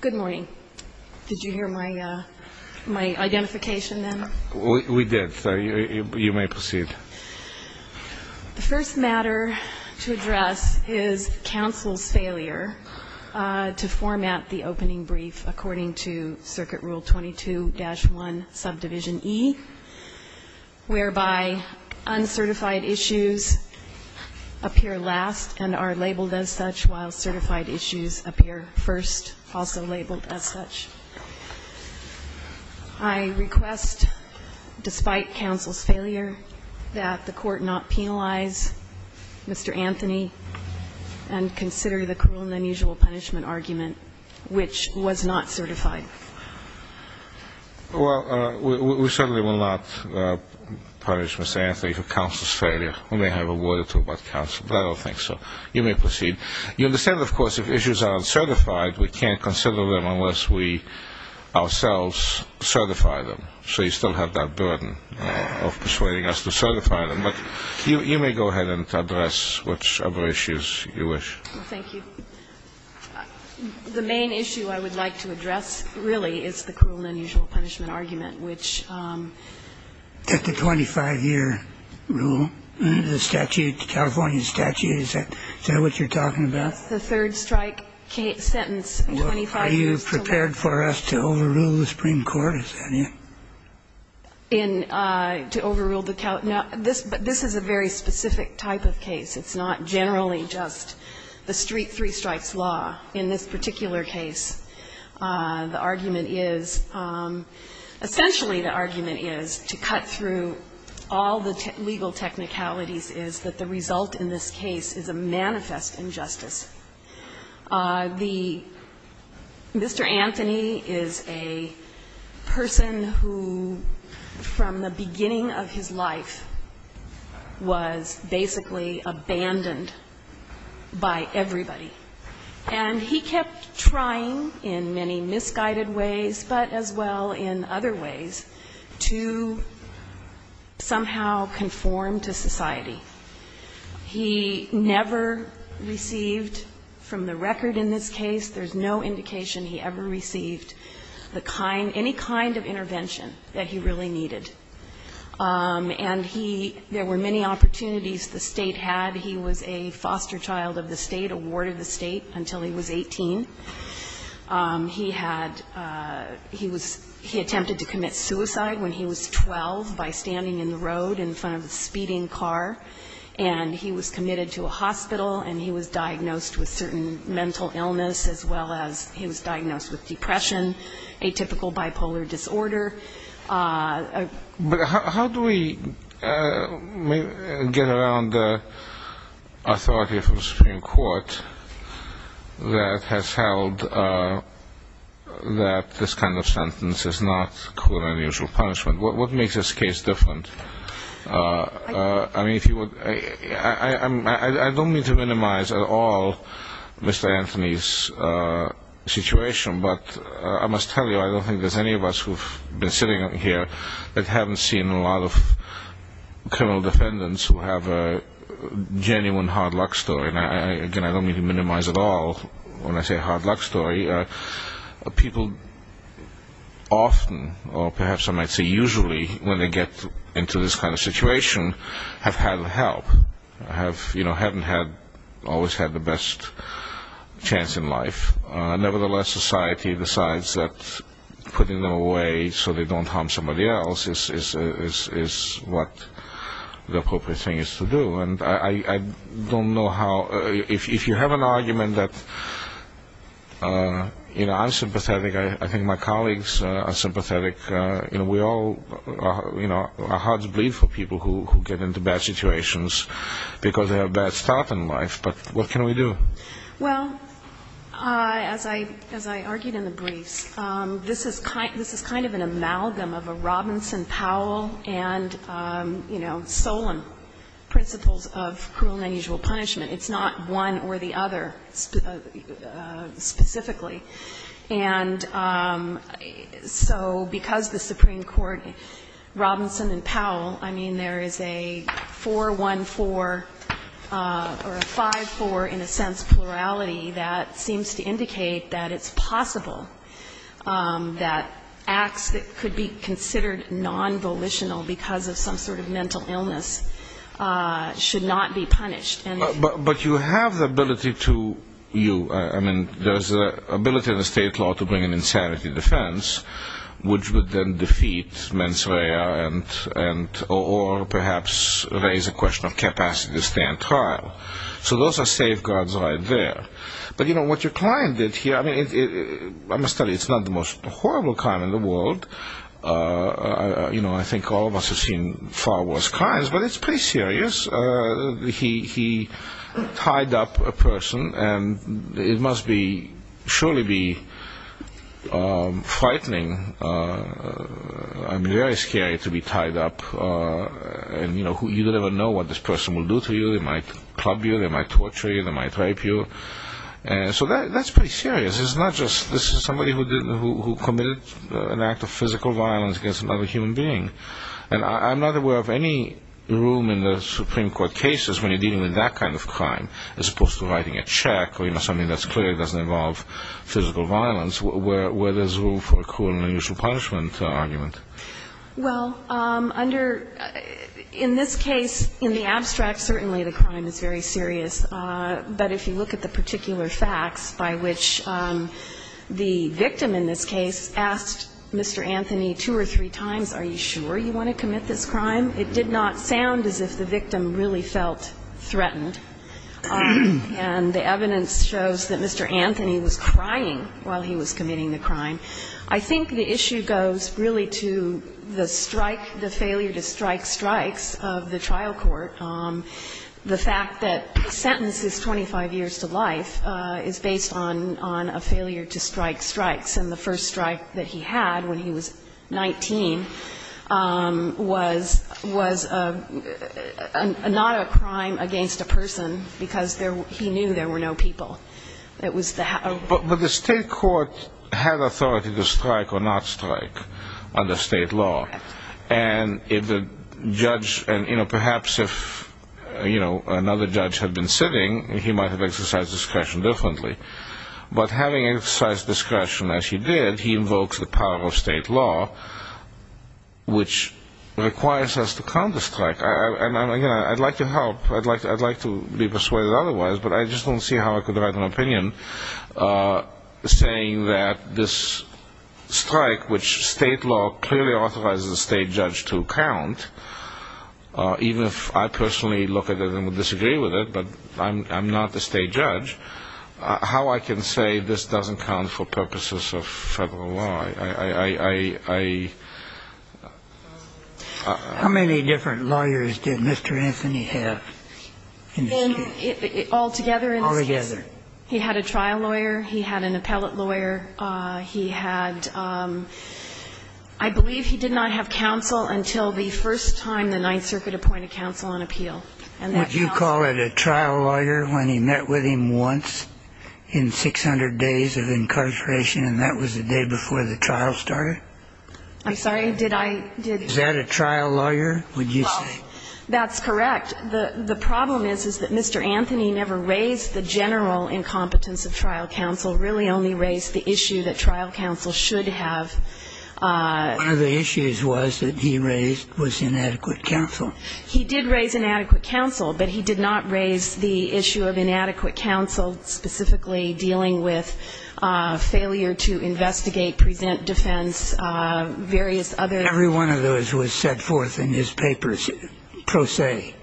Good morning. Did you hear my identification then? We did. You may proceed. The first matter to address is counsel's failure to format the opening brief according to Circuit Rule 22-1, Subdivision E, whereby uncertified issues appear last and are labeled as such while certified issues appear first, also labeled as such. I request, despite counsel's failure, that the Court not penalize Mr. Anthony and consider the cruel and unusual punishment argument, which was not certified. Well, we certainly will not punish Mr. Anthony for counsel's failure. We may have a word or two about counsel, but I don't think so. You may proceed. You understand, of course, if issues are uncertified, we can't consider them unless we ourselves certify them. So you still have that burden of persuading us to certify them. But you may go ahead and address whichever issues you wish. Thank you. The main issue I would like to address, really, is the cruel and unusual punishment argument, which the 25-year rule, the statute, the California statute, is that what you're talking about? It's the third-strike sentence in 25 years. Are you prepared for us to overrule the Supreme Court? Is that it? In to overrule the California? This is a very specific type of case. It's not generally just the street three-strikes law. In this particular case, the argument is, essentially the argument is, to cut through all the legal technicalities, is that the result in this case is a manifest injustice. The Mr. Anthony is a person who, from the beginning of his life, was basically abandoned by everybody. And he kept trying, in many misguided ways, but as well in other ways, to somehow conform to society. He never received, from the record in this case, there's no indication he ever received the kind, any kind of intervention that he really needed. And he, there were many opportunities the State had. He was a foster child of the State, a ward of the State, until he was 18. He had, he was, he attempted to commit suicide when he was 12 by standing in the road in front of a speeding car. And he was committed to a hospital, and he was diagnosed with certain mental illness as well as he was diagnosed with depression, atypical bipolar disorder. But how do we get around the authority of the Supreme Court that has held that this kind of sentence is not clear and unusual punishment? What makes this case different? I don't mean to minimize at all Mr. Anthony's situation, but I must tell you, I don't think there's any of us who have been sitting here that haven't seen a lot of criminal defendants who have a genuine hard luck story. Again, I don't mean to minimize at all when I say hard luck story. People often, or perhaps I might say usually, when they get into this kind of situation, have had help, have, you know, haven't had, always had the best chance in life. Nevertheless, society decides that putting them away so they don't harm somebody else is what the appropriate thing is to do. And I don't know how, if you have an argument that, you know, I'm sympathetic, I think my colleagues are sympathetic, you know, we all, you know, our hearts bleed for people who get into bad situations because they have a bad start in life. But what can we do? Well, as I argued in the briefs, this is kind of an amalgam of a Robinson Powell and, you know, there's a number of examples of cruel and unusual punishment. It's not one or the other specifically. And so because the Supreme Court, Robinson and Powell, I mean, there is a 4-1-4 or a 5-4 in a sense plurality that seems to indicate that it's possible that acts that could be considered non-volitional because of some sort of mental illness should not be punished. But you have the ability to, you, I mean, there's an ability in the state law to bring an insanity defense, which would then defeat mens rea or perhaps raise a question of capacity to stand trial. So those are safeguards right there. But, you know, what your client did here, I mean, I must tell you, it's not the most You know, I think all of us have seen far worse crimes, but it's pretty serious. He tied up a person and it must be, surely be frightening and very scary to be tied up. And, you know, you never know what this person will do to you. They might club you. They might torture you. They might rape you. And so that's pretty serious. It's not just this is somebody who committed an act of physical violence against another human being. And I'm not aware of any room in the Supreme Court cases when you're dealing with that kind of crime as opposed to writing a check or, you know, something that's clear doesn't involve physical violence where there's room for a cruel and unusual punishment argument. Well, under, in this case, in the abstract, certainly the crime is very serious. But if you look at the particular facts by which the victim in this case asked Mr. Anthony two or three times, are you sure you want to commit this crime? It did not sound as if the victim really felt threatened. And the evidence shows that Mr. Anthony was crying while he was committing the crime. I think the issue goes really to the strike, the failure to strike strikes of the trial court. The fact that the sentence is 25 years to life is based on a failure to strike strikes. And the first strike that he had when he was 19 was not a crime against a person because he knew there were no people. But the state court had authority to strike or not strike under state law. And if the judge, you know, perhaps if, you know, another judge had been sitting, he might have exercised discretion differently. But having exercised discretion as he did, he invokes the power of state law, which requires us to count the strike. And, again, I'd like to help. I'd like to be persuaded otherwise. But I just don't see how I could write an opinion saying that this strike, which state law clearly authorizes the state judge to count, even if I personally look at it and would disagree with it, but I'm not the state judge, how I can say this doesn't count for purposes of federal law. How many different lawyers did Mr. Anthony have in this case? All together in this case. All together. He had a trial lawyer. He had an appellate lawyer. He had ‑‑ I believe he did not have counsel until the first time the Ninth Circuit appointed counsel on appeal. And that counsel ‑‑ Would you call it a trial lawyer when he met with him once in 600 days of incarceration and that was the day before the trial started? I'm sorry. Did I ‑‑ Is that a trial lawyer, would you say? Well, that's correct. The problem is, is that Mr. Anthony never raised the general incompetence of trial counsel, really only raised the issue that trial counsel should have ‑‑ One of the issues was that he raised was inadequate counsel. He did raise inadequate counsel, but he did not raise the issue of inadequate counsel specifically dealing with failure to investigate, present defense, various other ‑‑ Every one of those was set forth in his papers, pro se.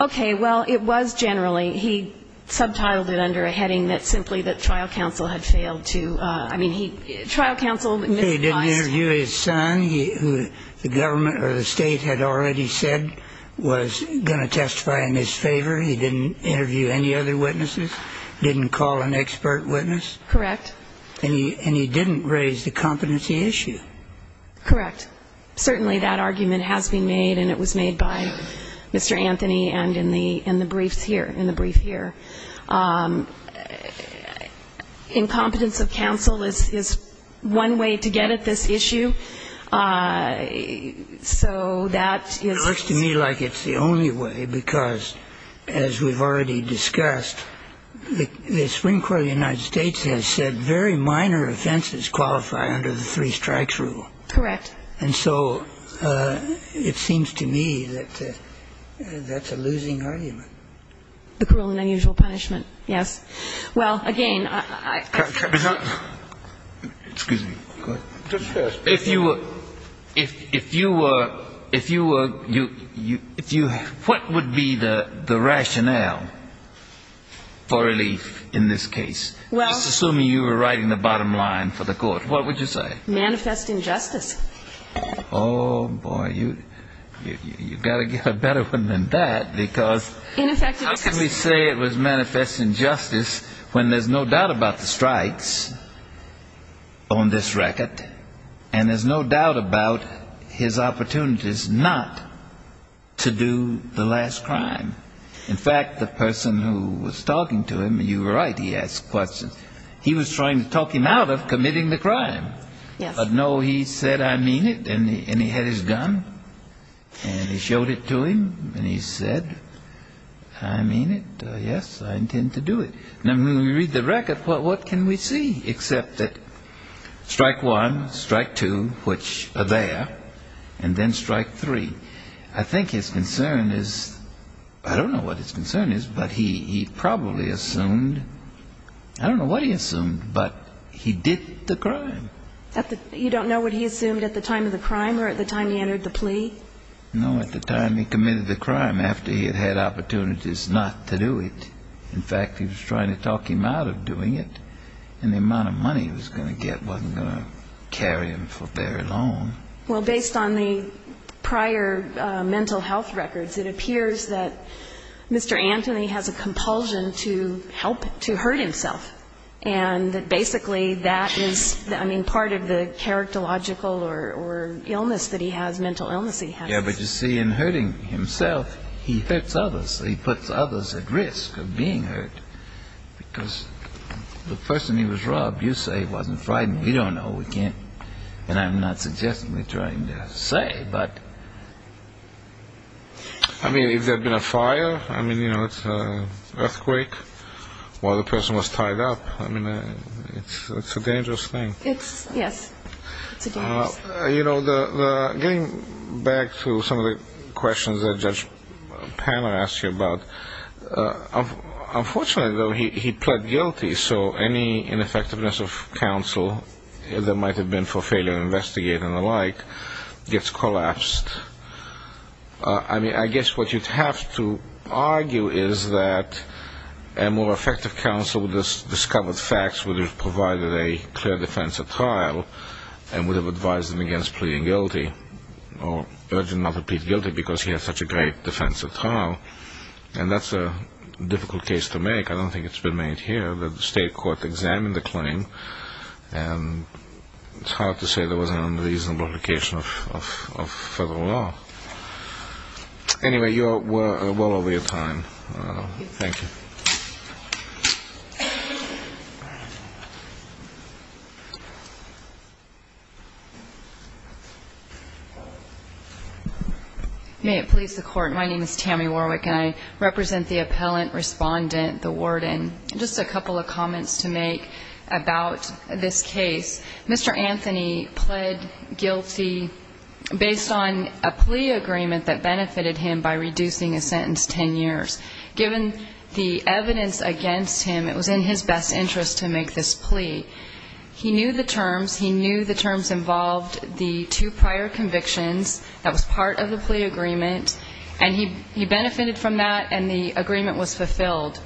Okay. Well, it was generally. He subtitled it under a heading that simply that trial counsel had failed to ‑‑ I mean, trial counsel ‑‑ He didn't interview his son, who the government or the State had already said was going to testify in his favor. He didn't interview any other witnesses, didn't call an expert witness. Correct. And he didn't raise the competency issue. Correct. Certainly that argument has been made, and it was made by Mr. Anthony and in the briefs here, in the brief here. Incompetence of counsel is one way to get at this issue. So that is ‑‑ It looks to me like it's the only way, because as we've already discussed, the Supreme Minor offenses qualify under the three strikes rule. Correct. And so it seems to me that that's a losing argument. The cruel and unusual punishment, yes. Well, again, I ‑‑ Excuse me. Go ahead. If you were ‑‑ if you were ‑‑ if you were ‑‑ if you ‑‑ what would be the rationale for relief in this case? Well ‑‑ I'm just assuming you were writing the bottom line for the court. What would you say? Manifest injustice. Oh, boy. You've got to get a better one than that, because how can we say it was manifest injustice when there's no doubt about the strikes on this record, and there's no doubt about his opportunities not to do the last crime? In fact, the person who was talking to him, you were right, he asked questions. He was trying to talk him out of committing the crime. Yes. But, no, he said, I mean it, and he had his gun, and he showed it to him, and he said, I mean it, yes, I intend to do it. Now, when we read the record, what can we see except that strike one, strike two, which are there, and then strike three? I think his concern is ‑‑ I don't know what his concern is, but he probably assumed ‑‑ I don't know what he assumed, but he did the crime. You don't know what he assumed at the time of the crime or at the time he entered the plea? No, at the time he committed the crime, after he had had opportunities not to do it. In fact, he was trying to talk him out of doing it, and the amount of money he was going to get wasn't going to carry him for very long. Well, based on the prior mental health records, it appears that Mr. Anthony has a compulsion to help, to hurt himself, and that basically that is, I mean, part of the character logical or illness that he has, mental illness he has. Yes, but you see, in hurting himself, he hurts others. He puts others at risk of being hurt because the person he was robbed, you say, wasn't frightened. We don't know. And I'm not suggesting or trying to say, but ‑‑ I mean, if there had been a fire, I mean, you know, it's an earthquake, while the person was tied up, I mean, it's a dangerous thing. Yes, it's a dangerous thing. You know, getting back to some of the questions that Judge Panner asked you about, unfortunately, though, he pled guilty, so any ineffectiveness of counsel that might have been for failure to investigate and the like gets collapsed. I mean, I guess what you'd have to argue is that a more effective counsel would have discovered facts, would have provided a clear defense at trial, and would have advised him against pleading guilty or urging not to plead guilty because he had such a great defense at trial. And that's a difficult case to make. I don't think it's been made here. The state court examined the claim, and it's hard to say there was an unreasonable application of federal law. Anyway, you're well over your time. Thank you. May it please the Court. My name is Tammy Warwick, and I represent the appellant, respondent, the warden. Just a couple of comments to make about this case. Mr. Anthony pled guilty based on a plea agreement that benefited him by reducing his sentence 10 years. Given the evidence against him, it was in his best interest to make this plea. He knew the terms. He knew the terms involved the two prior convictions that was part of the plea agreement, and he benefited from that, and the agreement was fulfilled.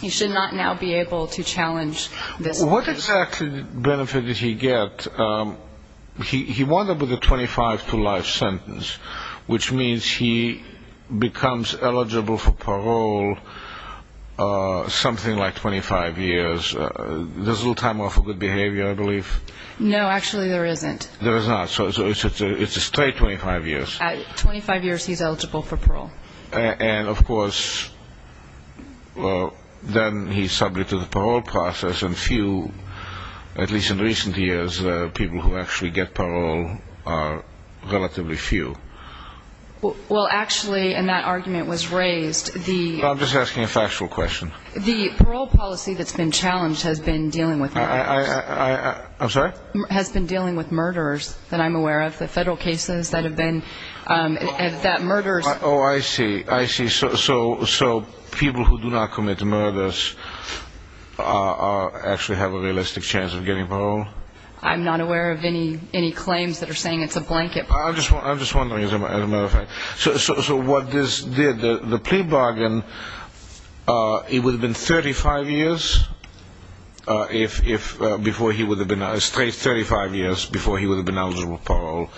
He should not now be able to challenge this plea. What exactly benefit did he get? He won it with a 25-to-life sentence, which means he becomes eligible for parole something like 25 years. There's a little time off for good behavior, I believe. No, actually there isn't. There is not. So it's a straight 25 years. At 25 years, he's eligible for parole. And, of course, then he's subject to the parole process, and few, at least in recent years, people who actually get parole are relatively few. Well, actually, and that argument was raised. I'm just asking a factual question. The parole policy that's been challenged has been dealing with murderers. I'm sorry? Has been dealing with murderers that I'm aware of, the federal cases that have been, and that murderers. Oh, I see. I see. So people who do not commit murders actually have a realistic chance of getting parole? I'm not aware of any claims that are saying it's a blanket parole. I'm just wondering, as a matter of fact. So what this did, the plea bargain, it would have been 35 years before he would have been eligible for parole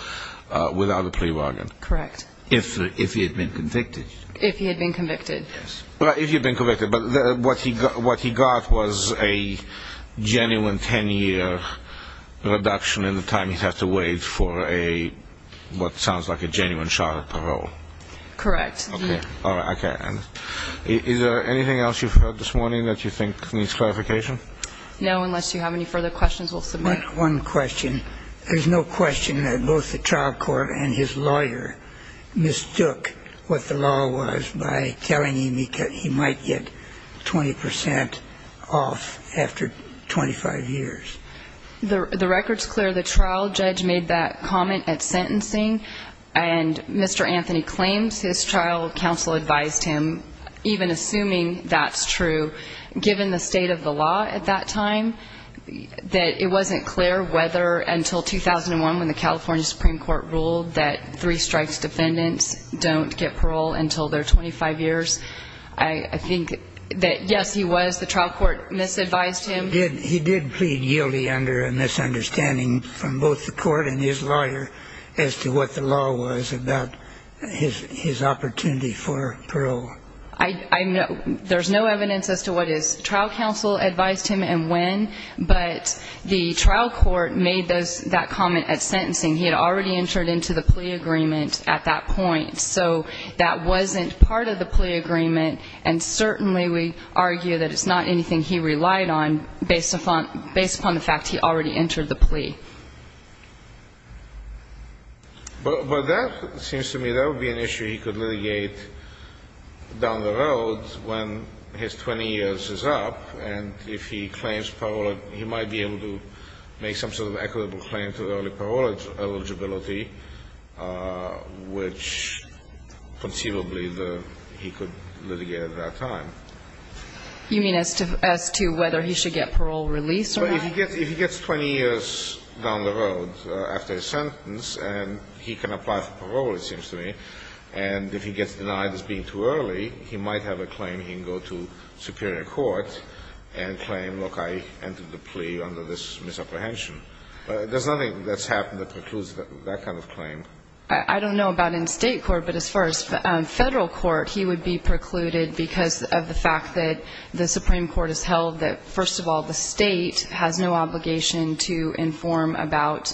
without a plea bargain. Correct. If he had been convicted. If he had been convicted. Yes. Well, if he had been convicted. But what he got was a genuine 10-year reduction in the time he'd have to wait for what sounds like a genuine shot at parole. Correct. Okay. All right. Okay. And is there anything else you've heard this morning that you think needs clarification? No, unless you have any further questions, we'll submit. One question. There's no question that both the trial court and his lawyer mistook what the law was by telling him he might get 20 percent off after 25 years. The record's clear. The trial judge made that comment at sentencing, and Mr. Anthony claims his trial counsel advised him, even assuming that's true, given the state of the law at that time, that it wasn't clear whether until 2001 when the California Supreme Court ruled that three strikes defendants don't get parole until they're 25 years. I think that, yes, he was. The trial court misadvised him. He did plead guilty under a misunderstanding from both the court and his lawyer There's no evidence as to what his trial counsel advised him and when, but the trial court made that comment at sentencing. He had already entered into the plea agreement at that point, so that wasn't part of the plea agreement, and certainly we argue that it's not anything he relied on based upon the fact he already entered the plea. But that seems to me that would be an issue he could litigate. down the road when his 20 years is up, and if he claims parole, he might be able to make some sort of equitable claim to early parole eligibility, which conceivably he could litigate at that time. You mean as to whether he should get parole release or not? If he gets 20 years down the road after his sentence and he can apply for parole, it seems to me, and if he gets denied as being too early, he might have a claim he can go to superior court and claim, look, I entered the plea under this misapprehension. There's nothing that's happened that precludes that kind of claim. I don't know about in State court, but as far as Federal court, he would be precluded because of the fact that the Supreme Court has held that, first of all, the State has no obligation to inform about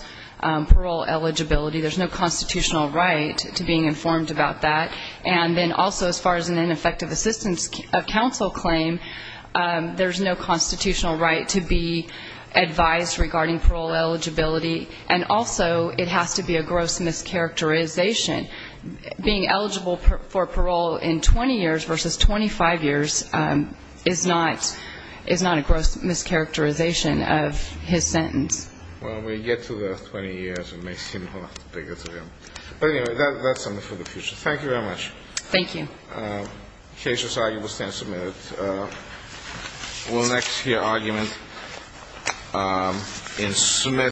parole eligibility. There's no constitutional right to being informed about that. And then also as far as an ineffective assistance of counsel claim, there's no constitutional right to be advised regarding parole eligibility. And also it has to be a gross mischaracterization. Being eligible for parole in 20 years versus 25 years is not a gross mischaracterization of his sentence. Well, when we get to the 20 years, it may seem a lot bigger to him. But anyway, that's something for the future. Thank you very much. Thank you.